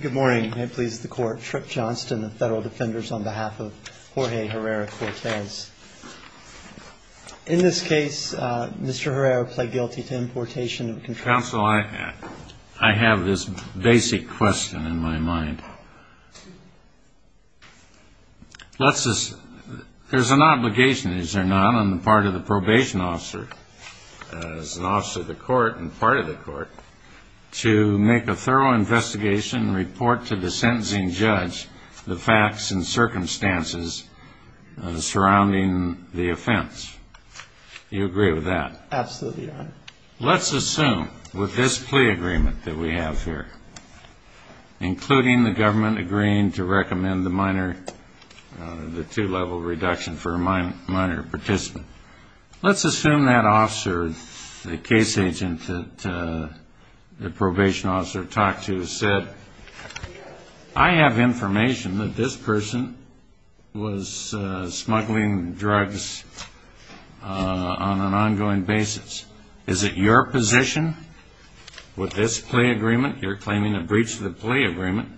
Good morning, and may it please the Court, Tripp Johnston, the Federal Defenders, on behalf of Jorge Herrera-Cortes. In this case, Mr. Herrera pled guilty to importation of a contract. Counsel, I have this basic question in my mind. There's an obligation, is there not, on the part of the probation officer, as an officer of the Court and part of the Court, to make a thorough investigation and report to the sentencing judge the facts and circumstances surrounding the offense. Do you agree with that? Absolutely, Your Honor. Let's assume, with this plea agreement that we have here, including the government agreeing to recommend the minor, the two-level reduction for a minor participant, let's assume that officer, the case agent that the probation officer talked to, said, I have information that this person was smuggling drugs on an ongoing basis. Is it your position, with this plea agreement, you're claiming a breach of the plea agreement,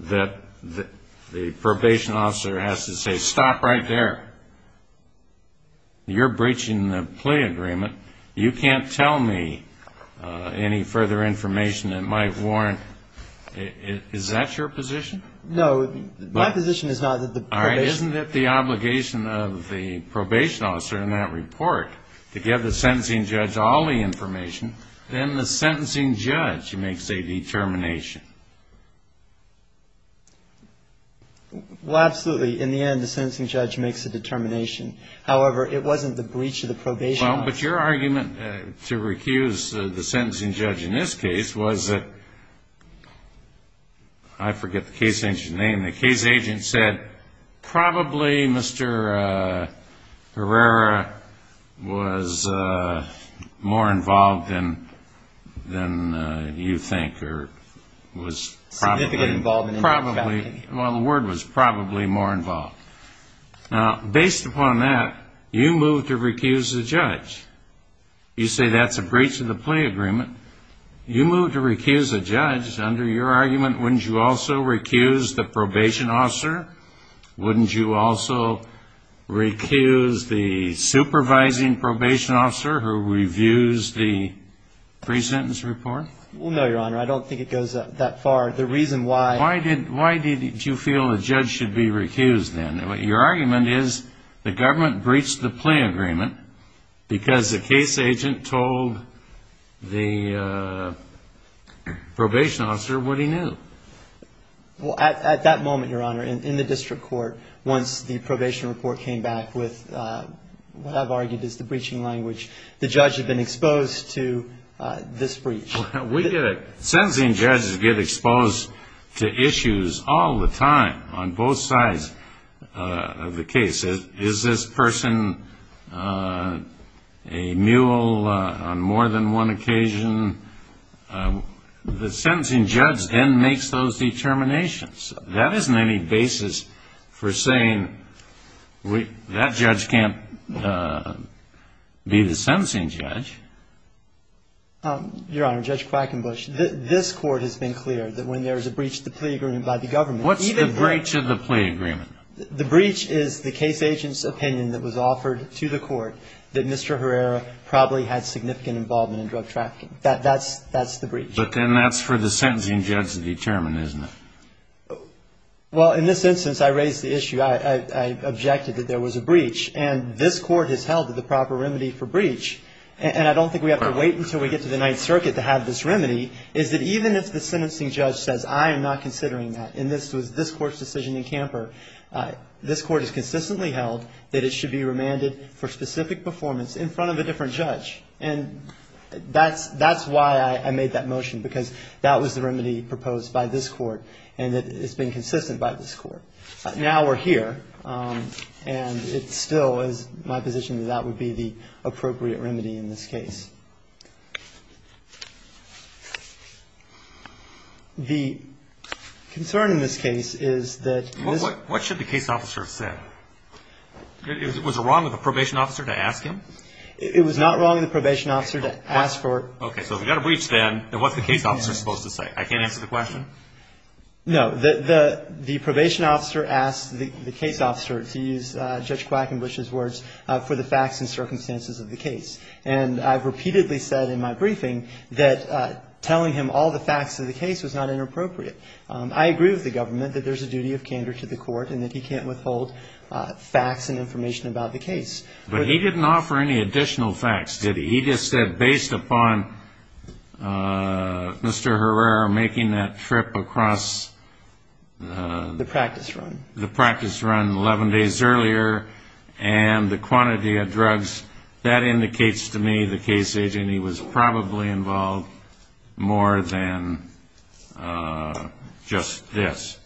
that the probation officer has to say, stop right there? You're breaching the plea agreement. You can't tell me any further information that might warrant, is that your position? No, my position is not that the probation officer. All right, isn't it the obligation of the probation officer in that report to give the sentencing judge all the information, then the sentencing judge makes a determination? Well, absolutely. In the end, the sentencing judge makes a determination. However, it wasn't the breach of the probation officer. Well, but your argument to recuse the sentencing judge in this case was that, I forget the case agent's name, and the case agent said, probably Mr. Herrera was more involved than you think, or was probably. Significantly involved. Probably. Well, the word was probably more involved. Now, based upon that, you move to recuse the judge. You say that's a breach of the plea agreement. You move to recuse the judge. Under your argument, wouldn't you also recuse the probation officer? Wouldn't you also recuse the supervising probation officer who reviews the pre-sentence report? Well, no, Your Honor. I don't think it goes that far. The reason why. Why did you feel the judge should be recused, then? Your argument is the government breached the plea agreement because the case agent told the probation officer what he knew. Well, at that moment, Your Honor, in the district court, once the probation report came back with what I've argued is the breaching language, the judge had been exposed to this breach. Sentencing judges get exposed to issues all the time on both sides of the case. Is this person a mule on more than one occasion? The sentencing judge then makes those determinations. That isn't any basis for saying that judge can't be the sentencing judge. Your Honor, Judge Quackenbush, this court has been clear that when there is a breach of the plea agreement by the government. What's the breach of the plea agreement? The breach is the case agent's opinion that was offered to the court that Mr. Herrera probably had significant involvement in drug trafficking. That's the breach. But then that's for the sentencing judge to determine, isn't it? Well, in this instance, I raised the issue. I objected that there was a breach. And this court has held that the proper remedy for breach. And I don't think we have to wait until we get to the Ninth Circuit to have this remedy, is that even if the sentencing judge says, I am not considering that. And this was this court's decision in Camper. This court has consistently held that it should be remanded for specific performance in front of a different judge. And that's why I made that motion, because that was the remedy proposed by this court. And it's been consistent by this court. Now we're here. And it still is my position that that would be the appropriate remedy in this case. The concern in this case is that this. What should the case officer have said? Was it wrong of the probation officer to ask him? It was not wrong of the probation officer to ask for. Okay, so if we got a breach then, then what's the case officer supposed to say? I can't answer the question? No. The probation officer asked the case officer, to use Judge Quackenbush's words, for the facts and circumstances of the case. And I've repeatedly said in my briefing that telling him all the facts of the case was not inappropriate. I agree with the government that there's a duty of candor to the court and that he can't withhold facts and information about the case. But he didn't offer any additional facts, did he? He just said, based upon Mr. Herrera making that trip across. The practice run. The practice run 11 days earlier and the quantity of drugs, that indicates to me the case agent, he was probably involved more than just this.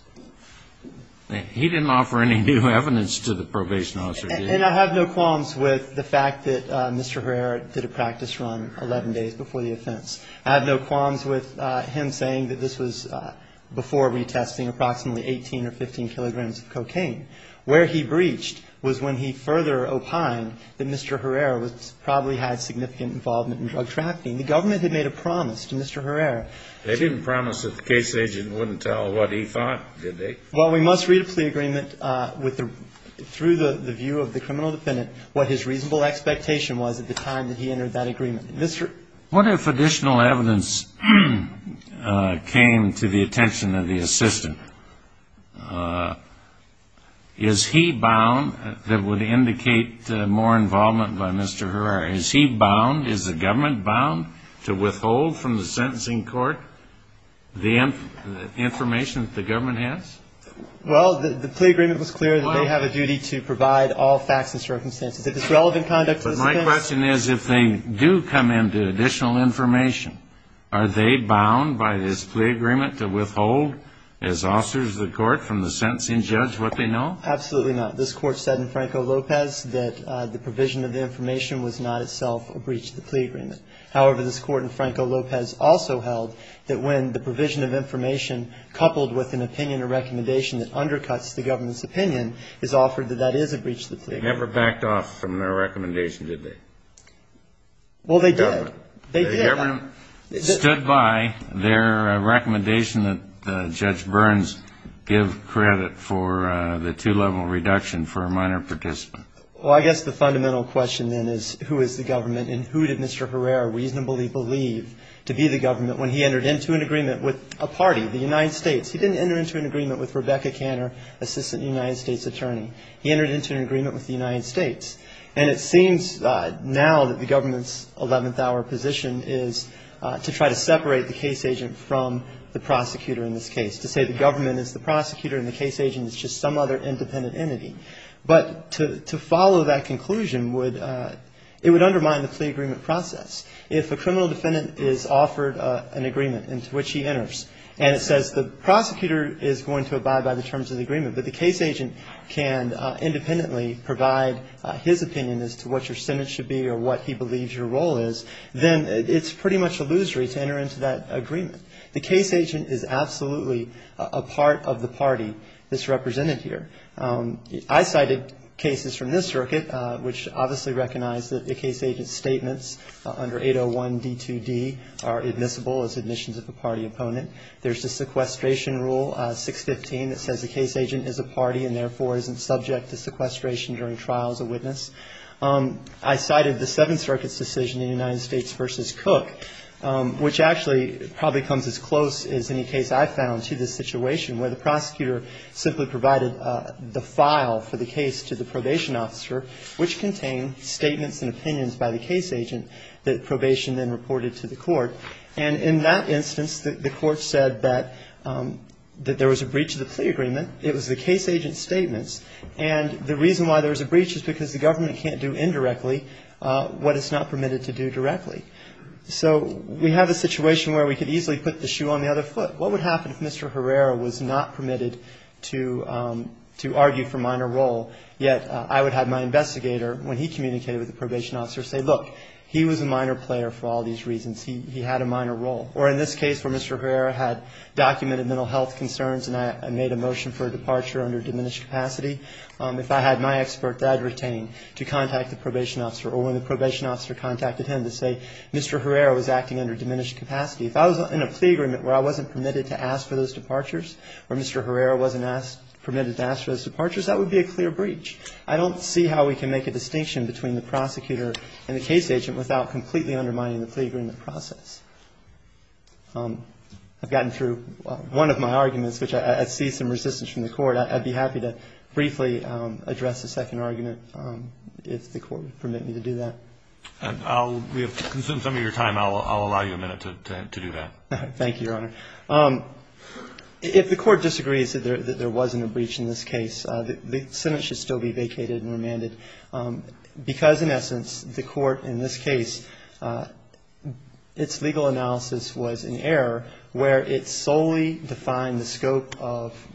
He didn't offer any new evidence to the probation officer, did he? And I have no qualms with the fact that Mr. Herrera did a practice run 11 days before the offense. I have no qualms with him saying that this was before retesting approximately 18 or 15 kilograms of cocaine. Where he breached was when he further opined that Mr. Herrera probably had significant involvement in drug trafficking. The government had made a promise to Mr. Herrera. They didn't promise that the case agent wouldn't tell what he thought, did they? Well, we must read a plea agreement through the view of the criminal defendant, what his reasonable expectation was at the time that he entered that agreement. What if additional evidence came to the attention of the assistant? Is he bound, that would indicate more involvement by Mr. Herrera, is he bound, is the government bound to withhold from the sentencing court the information that the government has? Well, the plea agreement was clear that they have a duty to provide all facts and circumstances. If it's relevant conduct to the defense... But my question is if they do come into additional information, are they bound by this plea agreement to withhold as officers of the court from the sentencing judge what they know? Absolutely not. This court said in Franco-Lopez that the provision of the information was not itself a breach of the plea agreement. However, this court in Franco-Lopez also held that when the provision of information coupled with an opinion or recommendation that undercuts the government's opinion is offered that that is a breach of the plea agreement. They never backed off from their recommendation, did they? Well, they did. The government stood by their recommendation that Judge Burns give credit for the two-level reduction for a minor participant. Well, I guess the fundamental question then is who is the government and who did Mr. Herrera reasonably believe to be the government when he entered into an agreement with a party, the United States? He didn't enter into an agreement with Rebecca Canner, assistant United States attorney. He entered into an agreement with the United States. And it seems now that the government's 11th-hour position is to try to separate the case agent from the prosecutor in this case, to say the government is the prosecutor and the case agent is just some other independent entity. But to follow that conclusion, it would undermine the plea agreement process. If a criminal defendant is offered an agreement into which he enters and it says the prosecutor is going to abide by the terms of the opinion as to what your sentence should be or what he believes your role is, then it's pretty much illusory to enter into that agreement. The case agent is absolutely a part of the party that's represented here. I cited cases from this circuit which obviously recognize that the case agent's statements under 801 D2D are admissible as admissions of a party opponent. There's a sequestration rule, 615, that says the case agent is a party and, therefore, isn't subject to sequestration during trial as a witness. I cited the Seventh Circuit's decision in United States v. Cook, which actually probably comes as close as any case I've found to this situation, where the prosecutor simply provided the file for the case to the probation officer, which contained statements and opinions by the case agent that probation then reported to the court. And in that instance, the court said that there was a breach of the plea agreement. It was the case agent's statements. And the reason why there was a breach is because the government can't do indirectly what it's not permitted to do directly. So we have a situation where we could easily put the shoe on the other foot. What would happen if Mr. Herrera was not permitted to argue for minor role, yet I would have my investigator, when he communicated with the probation officer, say, look, he was a minor player for all these reasons. He had a minor role. Or in this case where Mr. Herrera had documented mental health concerns and I made a motion to make a motion for a departure under diminished capacity, if I had my expert that I'd retain to contact the probation officer, or when the probation officer contacted him to say Mr. Herrera was acting under diminished capacity, if I was in a plea agreement where I wasn't permitted to ask for those departures, or Mr. Herrera wasn't asked or permitted to ask for those departures, that would be a clear breach. I don't see how we can make a distinction between the prosecutor and the case agent without completely undermining the plea agreement process. I've gotten through one of my arguments, which I see some resistance to, and I'm going to go through the rest of my arguments. And if there's any resistance from the Court, I'd be happy to briefly address the second argument, if the Court would permit me to do that. And I'll, we have consumed some of your time. I'll allow you a minute to do that. Thank you, Your Honor. If the Court disagrees that there wasn't a breach in this case, the sentence should still be vacated and remanded, because in essence, the Court, in this case, its legal analysis was in error where it solely defined the scope of the case. It did not define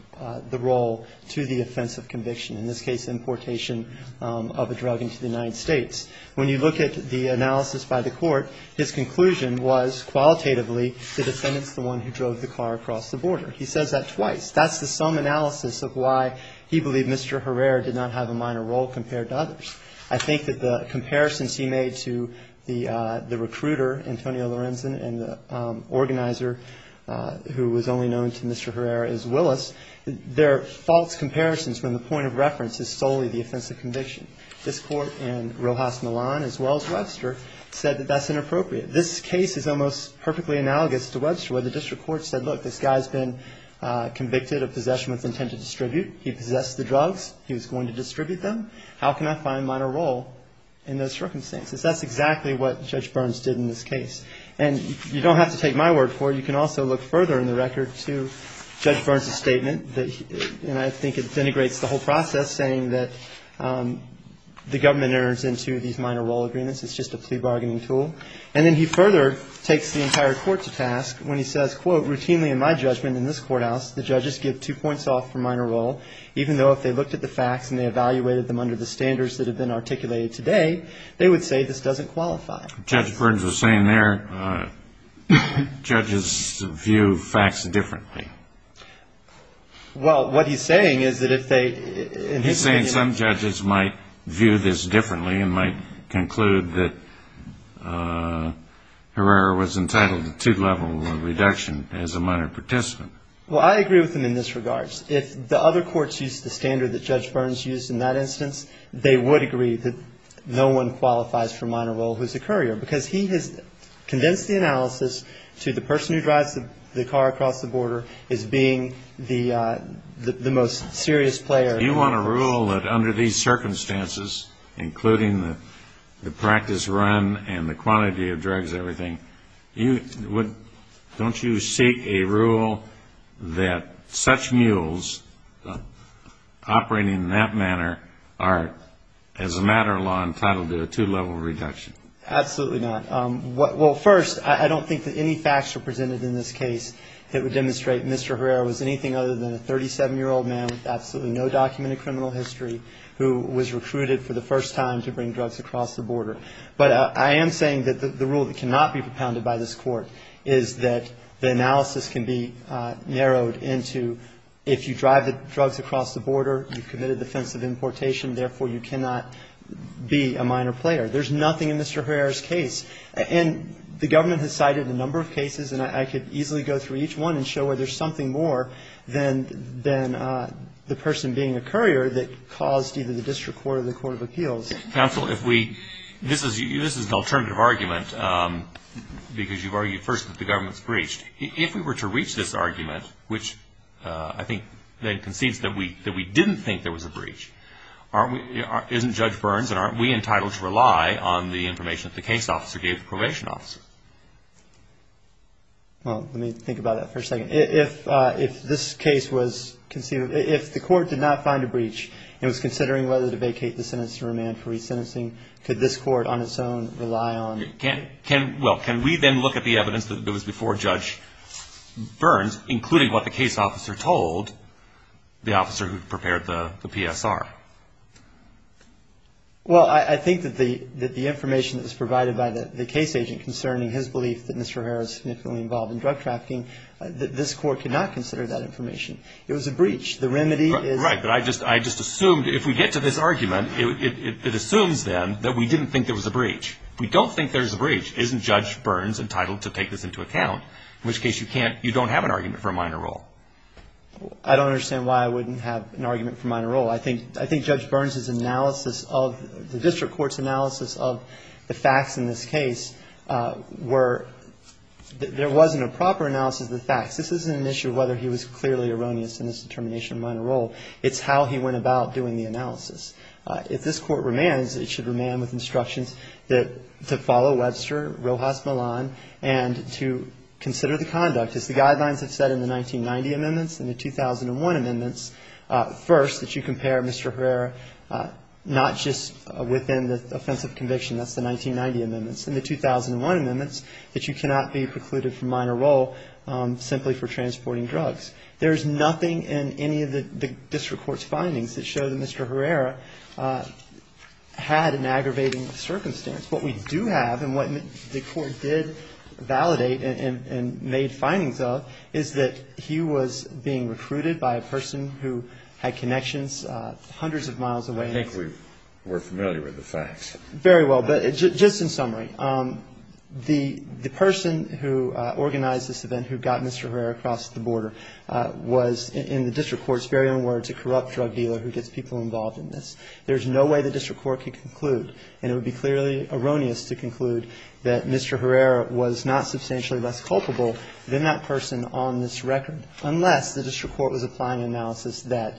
the role to the offense of conviction, in this case, importation of a drug into the United States. When you look at the analysis by the Court, his conclusion was, qualitatively, the defendant's the one who drove the car across the border. He says that twice. That's the sum analysis of why he believed Mr. Herrera did not have a minor role compared to others. I think that the comparisons he made to the recruiter, Antonio Lorenzen, and the organizer who was only known to Mr. Herrera as Willis, they're false comparisons when the point of reference is solely the offense of conviction. This Court, and Rojas Millan, as well as Webster, said that that's inappropriate. This case is almost perfectly analogous to Webster, where the district court said, look, this guy's been convicted of possession with intent to distribute. He possessed the drugs. He was going to distribute them. How can I find minor role in those circumstances? That's exactly what Judge Burns did in this case. And you don't have to take my word for it. You can also look further in the record to Judge Burns' statement, and I think it denigrates the whole process, saying that the government enters into these minor role agreements. It's just a plea bargaining tool. And then he further takes the entire Court to task when he says, quote, routinely in my judgment in this courthouse, the judges give two points off for minor role, even though if they looked at the facts and they evaluated them under the standards that have been articulated today, they would say this doesn't qualify. Judge Burns was saying there judges view facts differently. Well, what he's saying is that if they... He's saying some judges might view this differently and might conclude that Herrera was entitled to two-level reduction as a minor participant. Well, I agree with him in this regard. If the other courts used the standard that Judge Burns used in that instance, they would agree that no one qualifies for minor role who's a courier, because he has condensed the analysis to the person who drives the car across the border as being the most serious player. You want to rule that under these circumstances, including the practice run and the quantity of drugs and everything, don't you seek a rule that such mules operating in that manner are, as a matter of law, entitled to a two-level reduction? Absolutely not. Well, first, I don't think that any facts are presented in this case that would demonstrate Mr. Herrera was anything other than a 37-year-old man with absolutely no documented criminal history who was recruited for the first time to bring drugs across the border. But I am saying that the rule that cannot be propounded by this Court is that the analysis can be narrowed into, if you drive the car across the border, you've committed the offense of importation, therefore you cannot be a minor player. There's nothing in Mr. Herrera's case. And the government has cited a number of cases, and I could easily go through each one and show where there's something more than the person being a courier that caused either the District Court or the Court of Appeals. Counsel, if we – this is an alternative argument, because you've argued first that the government's breached. If we were to reach this argument, which I think then concedes that we didn't think there was a breach, isn't Judge Burns and aren't we entitled to rely on the information that the case officer gave the probation officer? Well, let me think about that for a second. If this case was – if the Court did not find a breach and was considering whether to vacate the sentence to remand for resentencing, could this Court on its own rely on – well, can we then look at the evidence that was before Judge Burns, including what the case officer told the officer who prepared the PSR? Well, I think that the information that was provided by the case agent concerning his belief that Mr. Herrera is significantly involved in drug trafficking, this Court could not consider that information. It was a breach. The remedy is – Right, but I just assumed – if we get to this argument, it assumes then that we didn't think there was a breach. If we don't think there's a breach, isn't Judge Burns entitled to take this into account, in which case you can't – you don't have an argument for a minor role? I don't understand why I wouldn't have an argument for a minor role. I think Judge Burns' analysis of – the District Court's analysis of the facts in this case were – there wasn't a proper analysis of the facts. This isn't an issue of whether he was clearly erroneous in his determination of a minor role. It's how he went about doing the analysis. If this Court remands, it should remand with instructions that you should – to follow Webster, Rojas, Milan, and to consider the conduct. As the guidelines have said in the 1990 amendments and the 2001 amendments, first, that you compare Mr. Herrera not just within the offense of conviction. That's the 1990 amendments. In the 2001 amendments, that you cannot be precluded from minor role simply for transporting drugs. There's nothing in any of the District Court's findings that show that Mr. Herrera had an aggravating circumstance. What we know is that Mr. Herrera had an aggravating circumstance. What we do have, and what the Court did validate and made findings of, is that he was being recruited by a person who had connections hundreds of miles away. I think we're familiar with the facts. Very well. But just in summary, the person who organized this event, who got Mr. Herrera across the border, was in the District Court's very own case. And the District Court's findings are that Mr. Herrera was not substantially less culpable than that person on this record. Unless the District Court was applying an analysis that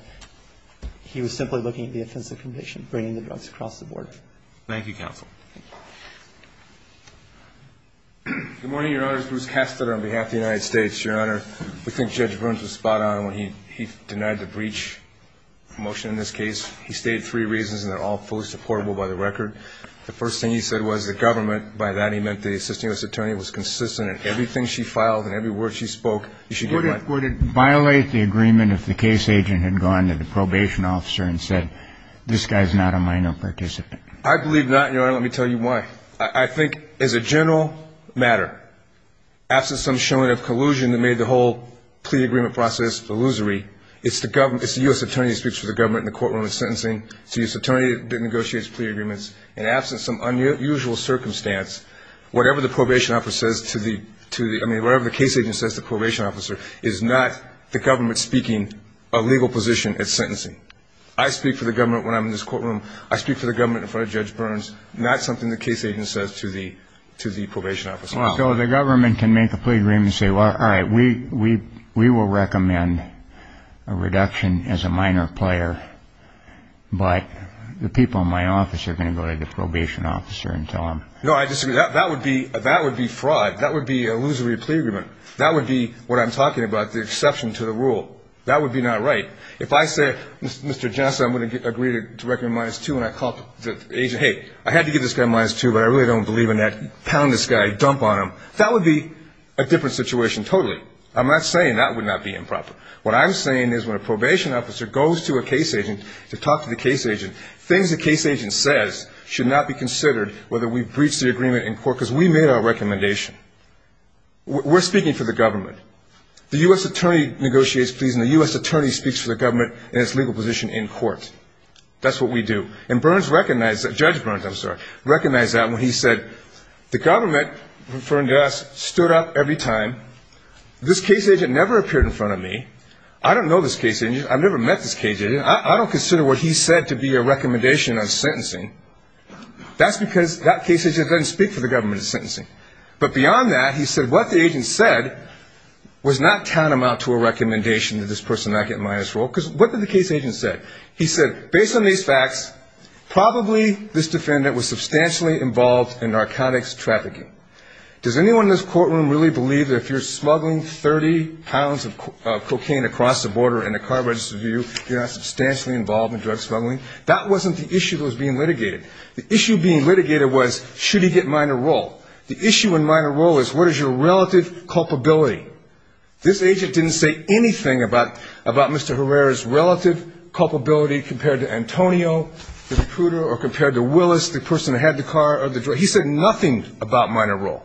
he was simply looking at the offense of conviction, bringing the drugs across the border. Thank you, Counsel. Good morning, Your Honors. Bruce Kastner on behalf of the United States. Your Honor, we think Judge Bruns was spot on when he denied the breach motion in this case. He stated three reasons and they're all fully supportable by the record. Second, he said that the court's decision to give the case to the government, by that he meant the Assistant U.S. Attorney, was consistent in everything she filed and every word she spoke. You should get one. Would it violate the agreement if the case agent had gone to the probation officer and said, this guy's not a minor participant? I believe not, Your Honor. Let me tell you why. I think as a general matter, absent some showing of collusion that made the whole plea agreement process illusory, it's the U.S. Attorney that speaks for the government in the courtroom in sentencing, it's the U.S. Attorney that negotiates plea agreements, and absent some unusual circumstance, whatever the case agent says to the probation officer is not the government speaking a legal position at sentencing. I speak for the government when I'm in this courtroom, I speak for the government in front of Judge Bruns, and that's something the case agent says to the probation officer. So the government can make a plea agreement and say, all right, we will recommend a reduction as a minor player, but the people in my office are going to go to the probation officer and tell him. No, I disagree. That would be fraud. That would be an illusory plea agreement. That would be what I'm talking about, the exception to the rule. That would be not right. If I said, Mr. Johnson, I'm going to agree to recommend minus two, and I called the agent, hey, I had to give this guy minus two, but I really don't believe in that, pound this guy, dump on him, that would be a different situation totally. I'm not saying that would not be improper. What I'm saying is when a probation officer goes to a case agent to talk to the case agent, things the case agent says should not be considered whether we breach the agreement in court, because we made our recommendation. We're speaking for the government. The U.S. attorney negotiates pleas, and the U.S. attorney speaks for the government in its legal position in court. That's what we do. And Judge Bruns recognized that when he said, the government, referring to us, stood up every time. This case agent never appeared in front of me. I don't know this case agent. I've never met this case agent. I don't consider what he said to be a recommendation on sentencing. That's because that case agent doesn't speak for the government in sentencing. But beyond that, he said what the agent said was not tantamount to a recommendation that this person not get a minus rule, because what did the case agent say? He said, based on these facts, probably this defendant was substantially involved in narcotics trafficking. Does anyone in this courtroom really believe that if you're smuggling 30 pounds of cocaine across the border in a car registered view, you're not substantially involved in drug smuggling? That wasn't the issue that was being litigated. The issue being litigated was, should he get minor rule? The issue in minor rule is, what is your relative culpability? This agent didn't say anything about Mr. Herrera's relative culpability compared to Antonio, Mr. Pruder, or compared to Willis, the person that had the car or the drug. He said nothing about minor rule.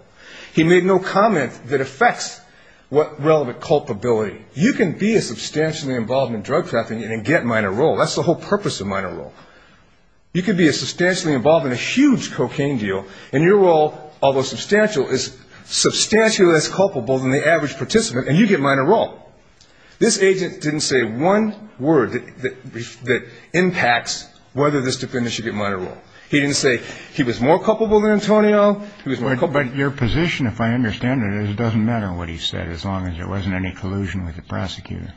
He made no comment that affects what relevant culpability. You can be substantially involved in drug trafficking and get minor rule. That's the whole purpose of minor rule. You can be substantially involved in a huge cocaine deal, and your role, although substantial, is substantially less culpable than the average participant, and you get minor rule. This agent didn't say one word that impacts whether this defendant should get minor rule. He didn't say he was more culpable than Antonio. But your position, if I understand it, is it doesn't matter what he said, as long as there wasn't any collusion with the prosecutor.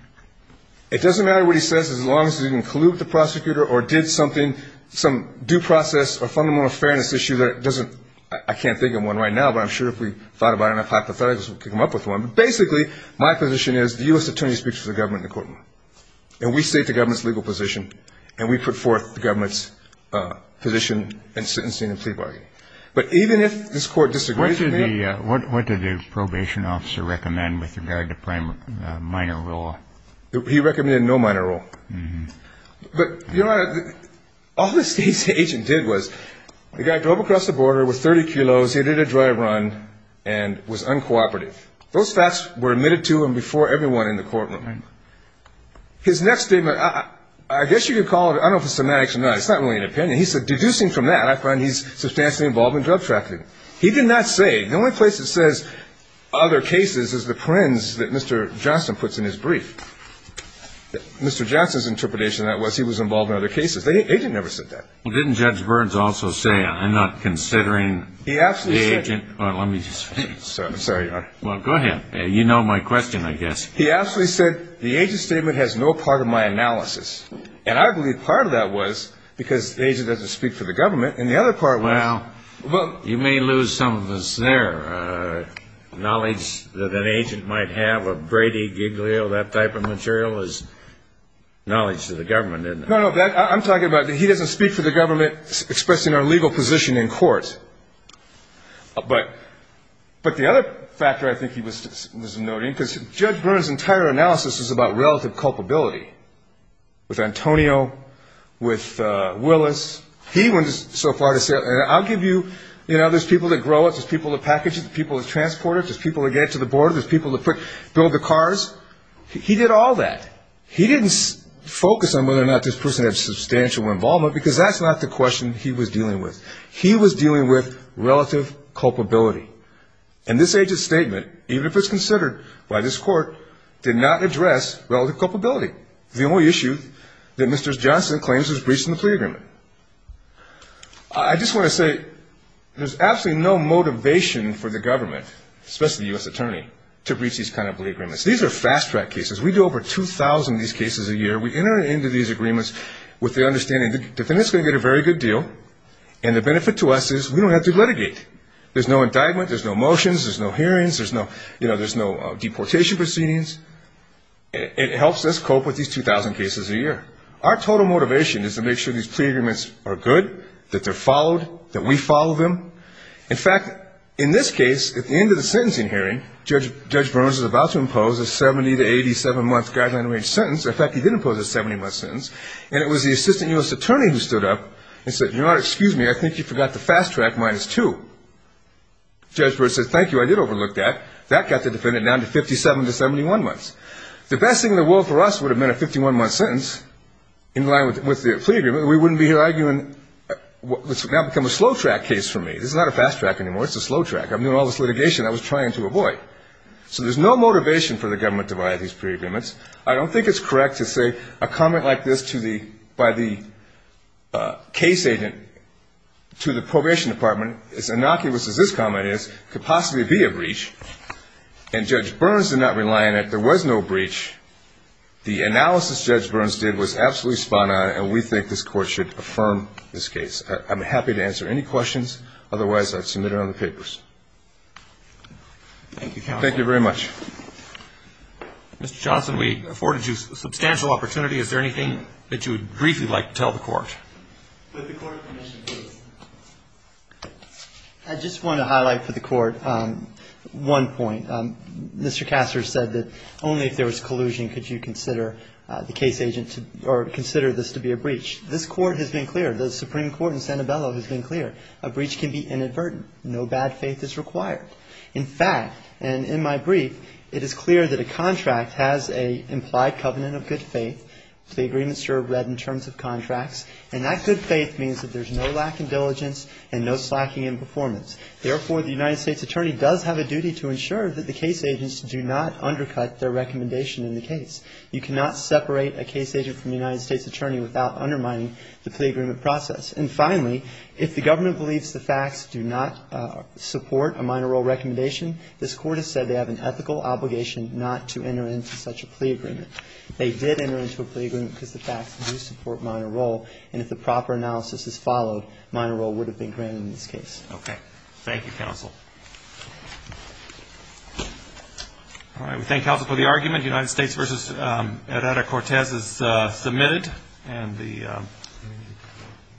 It doesn't matter what he says, as long as he didn't collude with the prosecutor or did something, some due process or fundamental fairness issue that doesn't... I can't think of one right now, but I'm sure if we thought about it enough hypothetically, we could come up with one. But basically, my position is, the U.S. Attorney speaks for the government in the courtroom, and we state the government's legal position, and we put forth the government's position in sentencing and plea bargaining. But even if this Court disagrees with that... He recommended no minor rule. But, Your Honor, all this agent did was the guy drove across the border with 30 kilos, he did a drive-run, and was uncooperative. Those facts were admitted to him before everyone in the courtroom. His next statement, I guess you could call it, I don't know if it's semantics or not, it's not really an opinion, he said, deducing from that, I find he's substantially involved in drug trafficking. He did not say, the only place it says other cases is the prints that Mr. Johnston puts in his brief. Mr. Johnston's interpretation of that was he was involved in other cases. The agent never said that. Well, didn't Judge Burns also say, I'm not considering the agent... He absolutely said... Well, go ahead. You know my question, I guess. He absolutely said, the agent's statement has no part of my analysis. And I believe part of that was because the agent doesn't speak for the government, and the other part was... Well, you may lose some of this there. Knowledge that an agent might have of Brady, Giglio, that type of material is knowledge to the government, isn't it? No, no, I'm talking about he doesn't speak for the government expressing our legal position in court. But the other factor I think he was noting, because Judge Burns' entire analysis was about relative culpability, with Antonio, with Willis. He went so far to say, I'll give you, you know, there's people that grow it, there's people that package it, there's people that transport it, there's people that get it to the board, there's people that build the cars. He did all that. He didn't focus on whether or not this person had substantial involvement, because that's not the question he was dealing with. He was dealing with relative culpability. And this agent's statement, even if it's considered by this Court, did not address relative culpability. The only issue that Mr. Johnson claims was breaching the plea agreement. I just want to say, there's absolutely no motivation for the government, especially the U.S. Attorney, to breach these kind of plea agreements. These are fast-track cases. We do over 2,000 of these cases a year. We enter into these agreements with the understanding the defendant's going to get a very good deal, and the benefit to us is we don't have to litigate. There's no indictment, there's no motions, there's no hearings, there's no deportation proceedings. It helps us cope with these 2,000 cases a year. Our total motivation is to make sure these plea agreements are good, that they're followed, that we follow them. In fact, in this case, at the end of the sentencing hearing, Judge Burns is about to impose a 70 to 87-month guideline-arranged sentence. In fact, he did impose a 70-month sentence, and it was the Assistant U.S. Attorney who stood up and said, Your Honor, excuse me, I think you forgot the fast-track minus two. Judge Burns said, Thank you, I did overlook that. That got the defendant down to 57 to 71 months. The best thing in the world for us would have been a 51-month sentence in line with the plea agreement. We wouldn't be here arguing what's now become a slow-track case for me. This is not a fast-track anymore. It's a slow-track. I'm doing all this litigation I was trying to avoid. So there's no motivation for the government to violate these plea agreements. I don't think it's correct to say a comment like this by the case agent to the probation department, as innocuous as this comment is, could possibly be a breach. And Judge Burns did not rely on it. There was no breach. The analysis Judge Burns did was absolutely spot-on, and we think this Court should affirm this case. I'm happy to answer any questions. Otherwise, I'd submit it on the papers. Thank you, Counsel. Thank you very much. Mr. Johnson, we afforded you substantial opportunity. Is there anything that you would briefly like to tell the Court? With the Court's permission, please. I just want to highlight for the Court one point. Mr. Kassar said that only if there was collusion could you consider the case agent to be a breach. This Court has been clear, the Supreme Court in Sanibello has been clear. A breach can be inadvertent. No bad faith is required. In fact, and in my brief, it is clear that a contract has an implied covenant of good faith. The agreements are read in terms of contracts, and that good faith means that there's no lack of diligence and no slacking in performance. Therefore, the United States attorney does have a duty to ensure that the case agents do not undercut their recommendation in the case. You cannot separate a case agent from a United States attorney without undermining the plea agreement process. And finally, if the government believes the facts do not support a minor role recommendation, this Court has said they have an ethical obligation not to enter into such a plea agreement. They did enter into a plea agreement because the facts do support minor role, and if the proper analysis is followed, minor role would have been granted in this case. Okay. Thank you, Counsel. All right. We thank Counsel for the argument. United States v. Herrera-Cortez is submitted.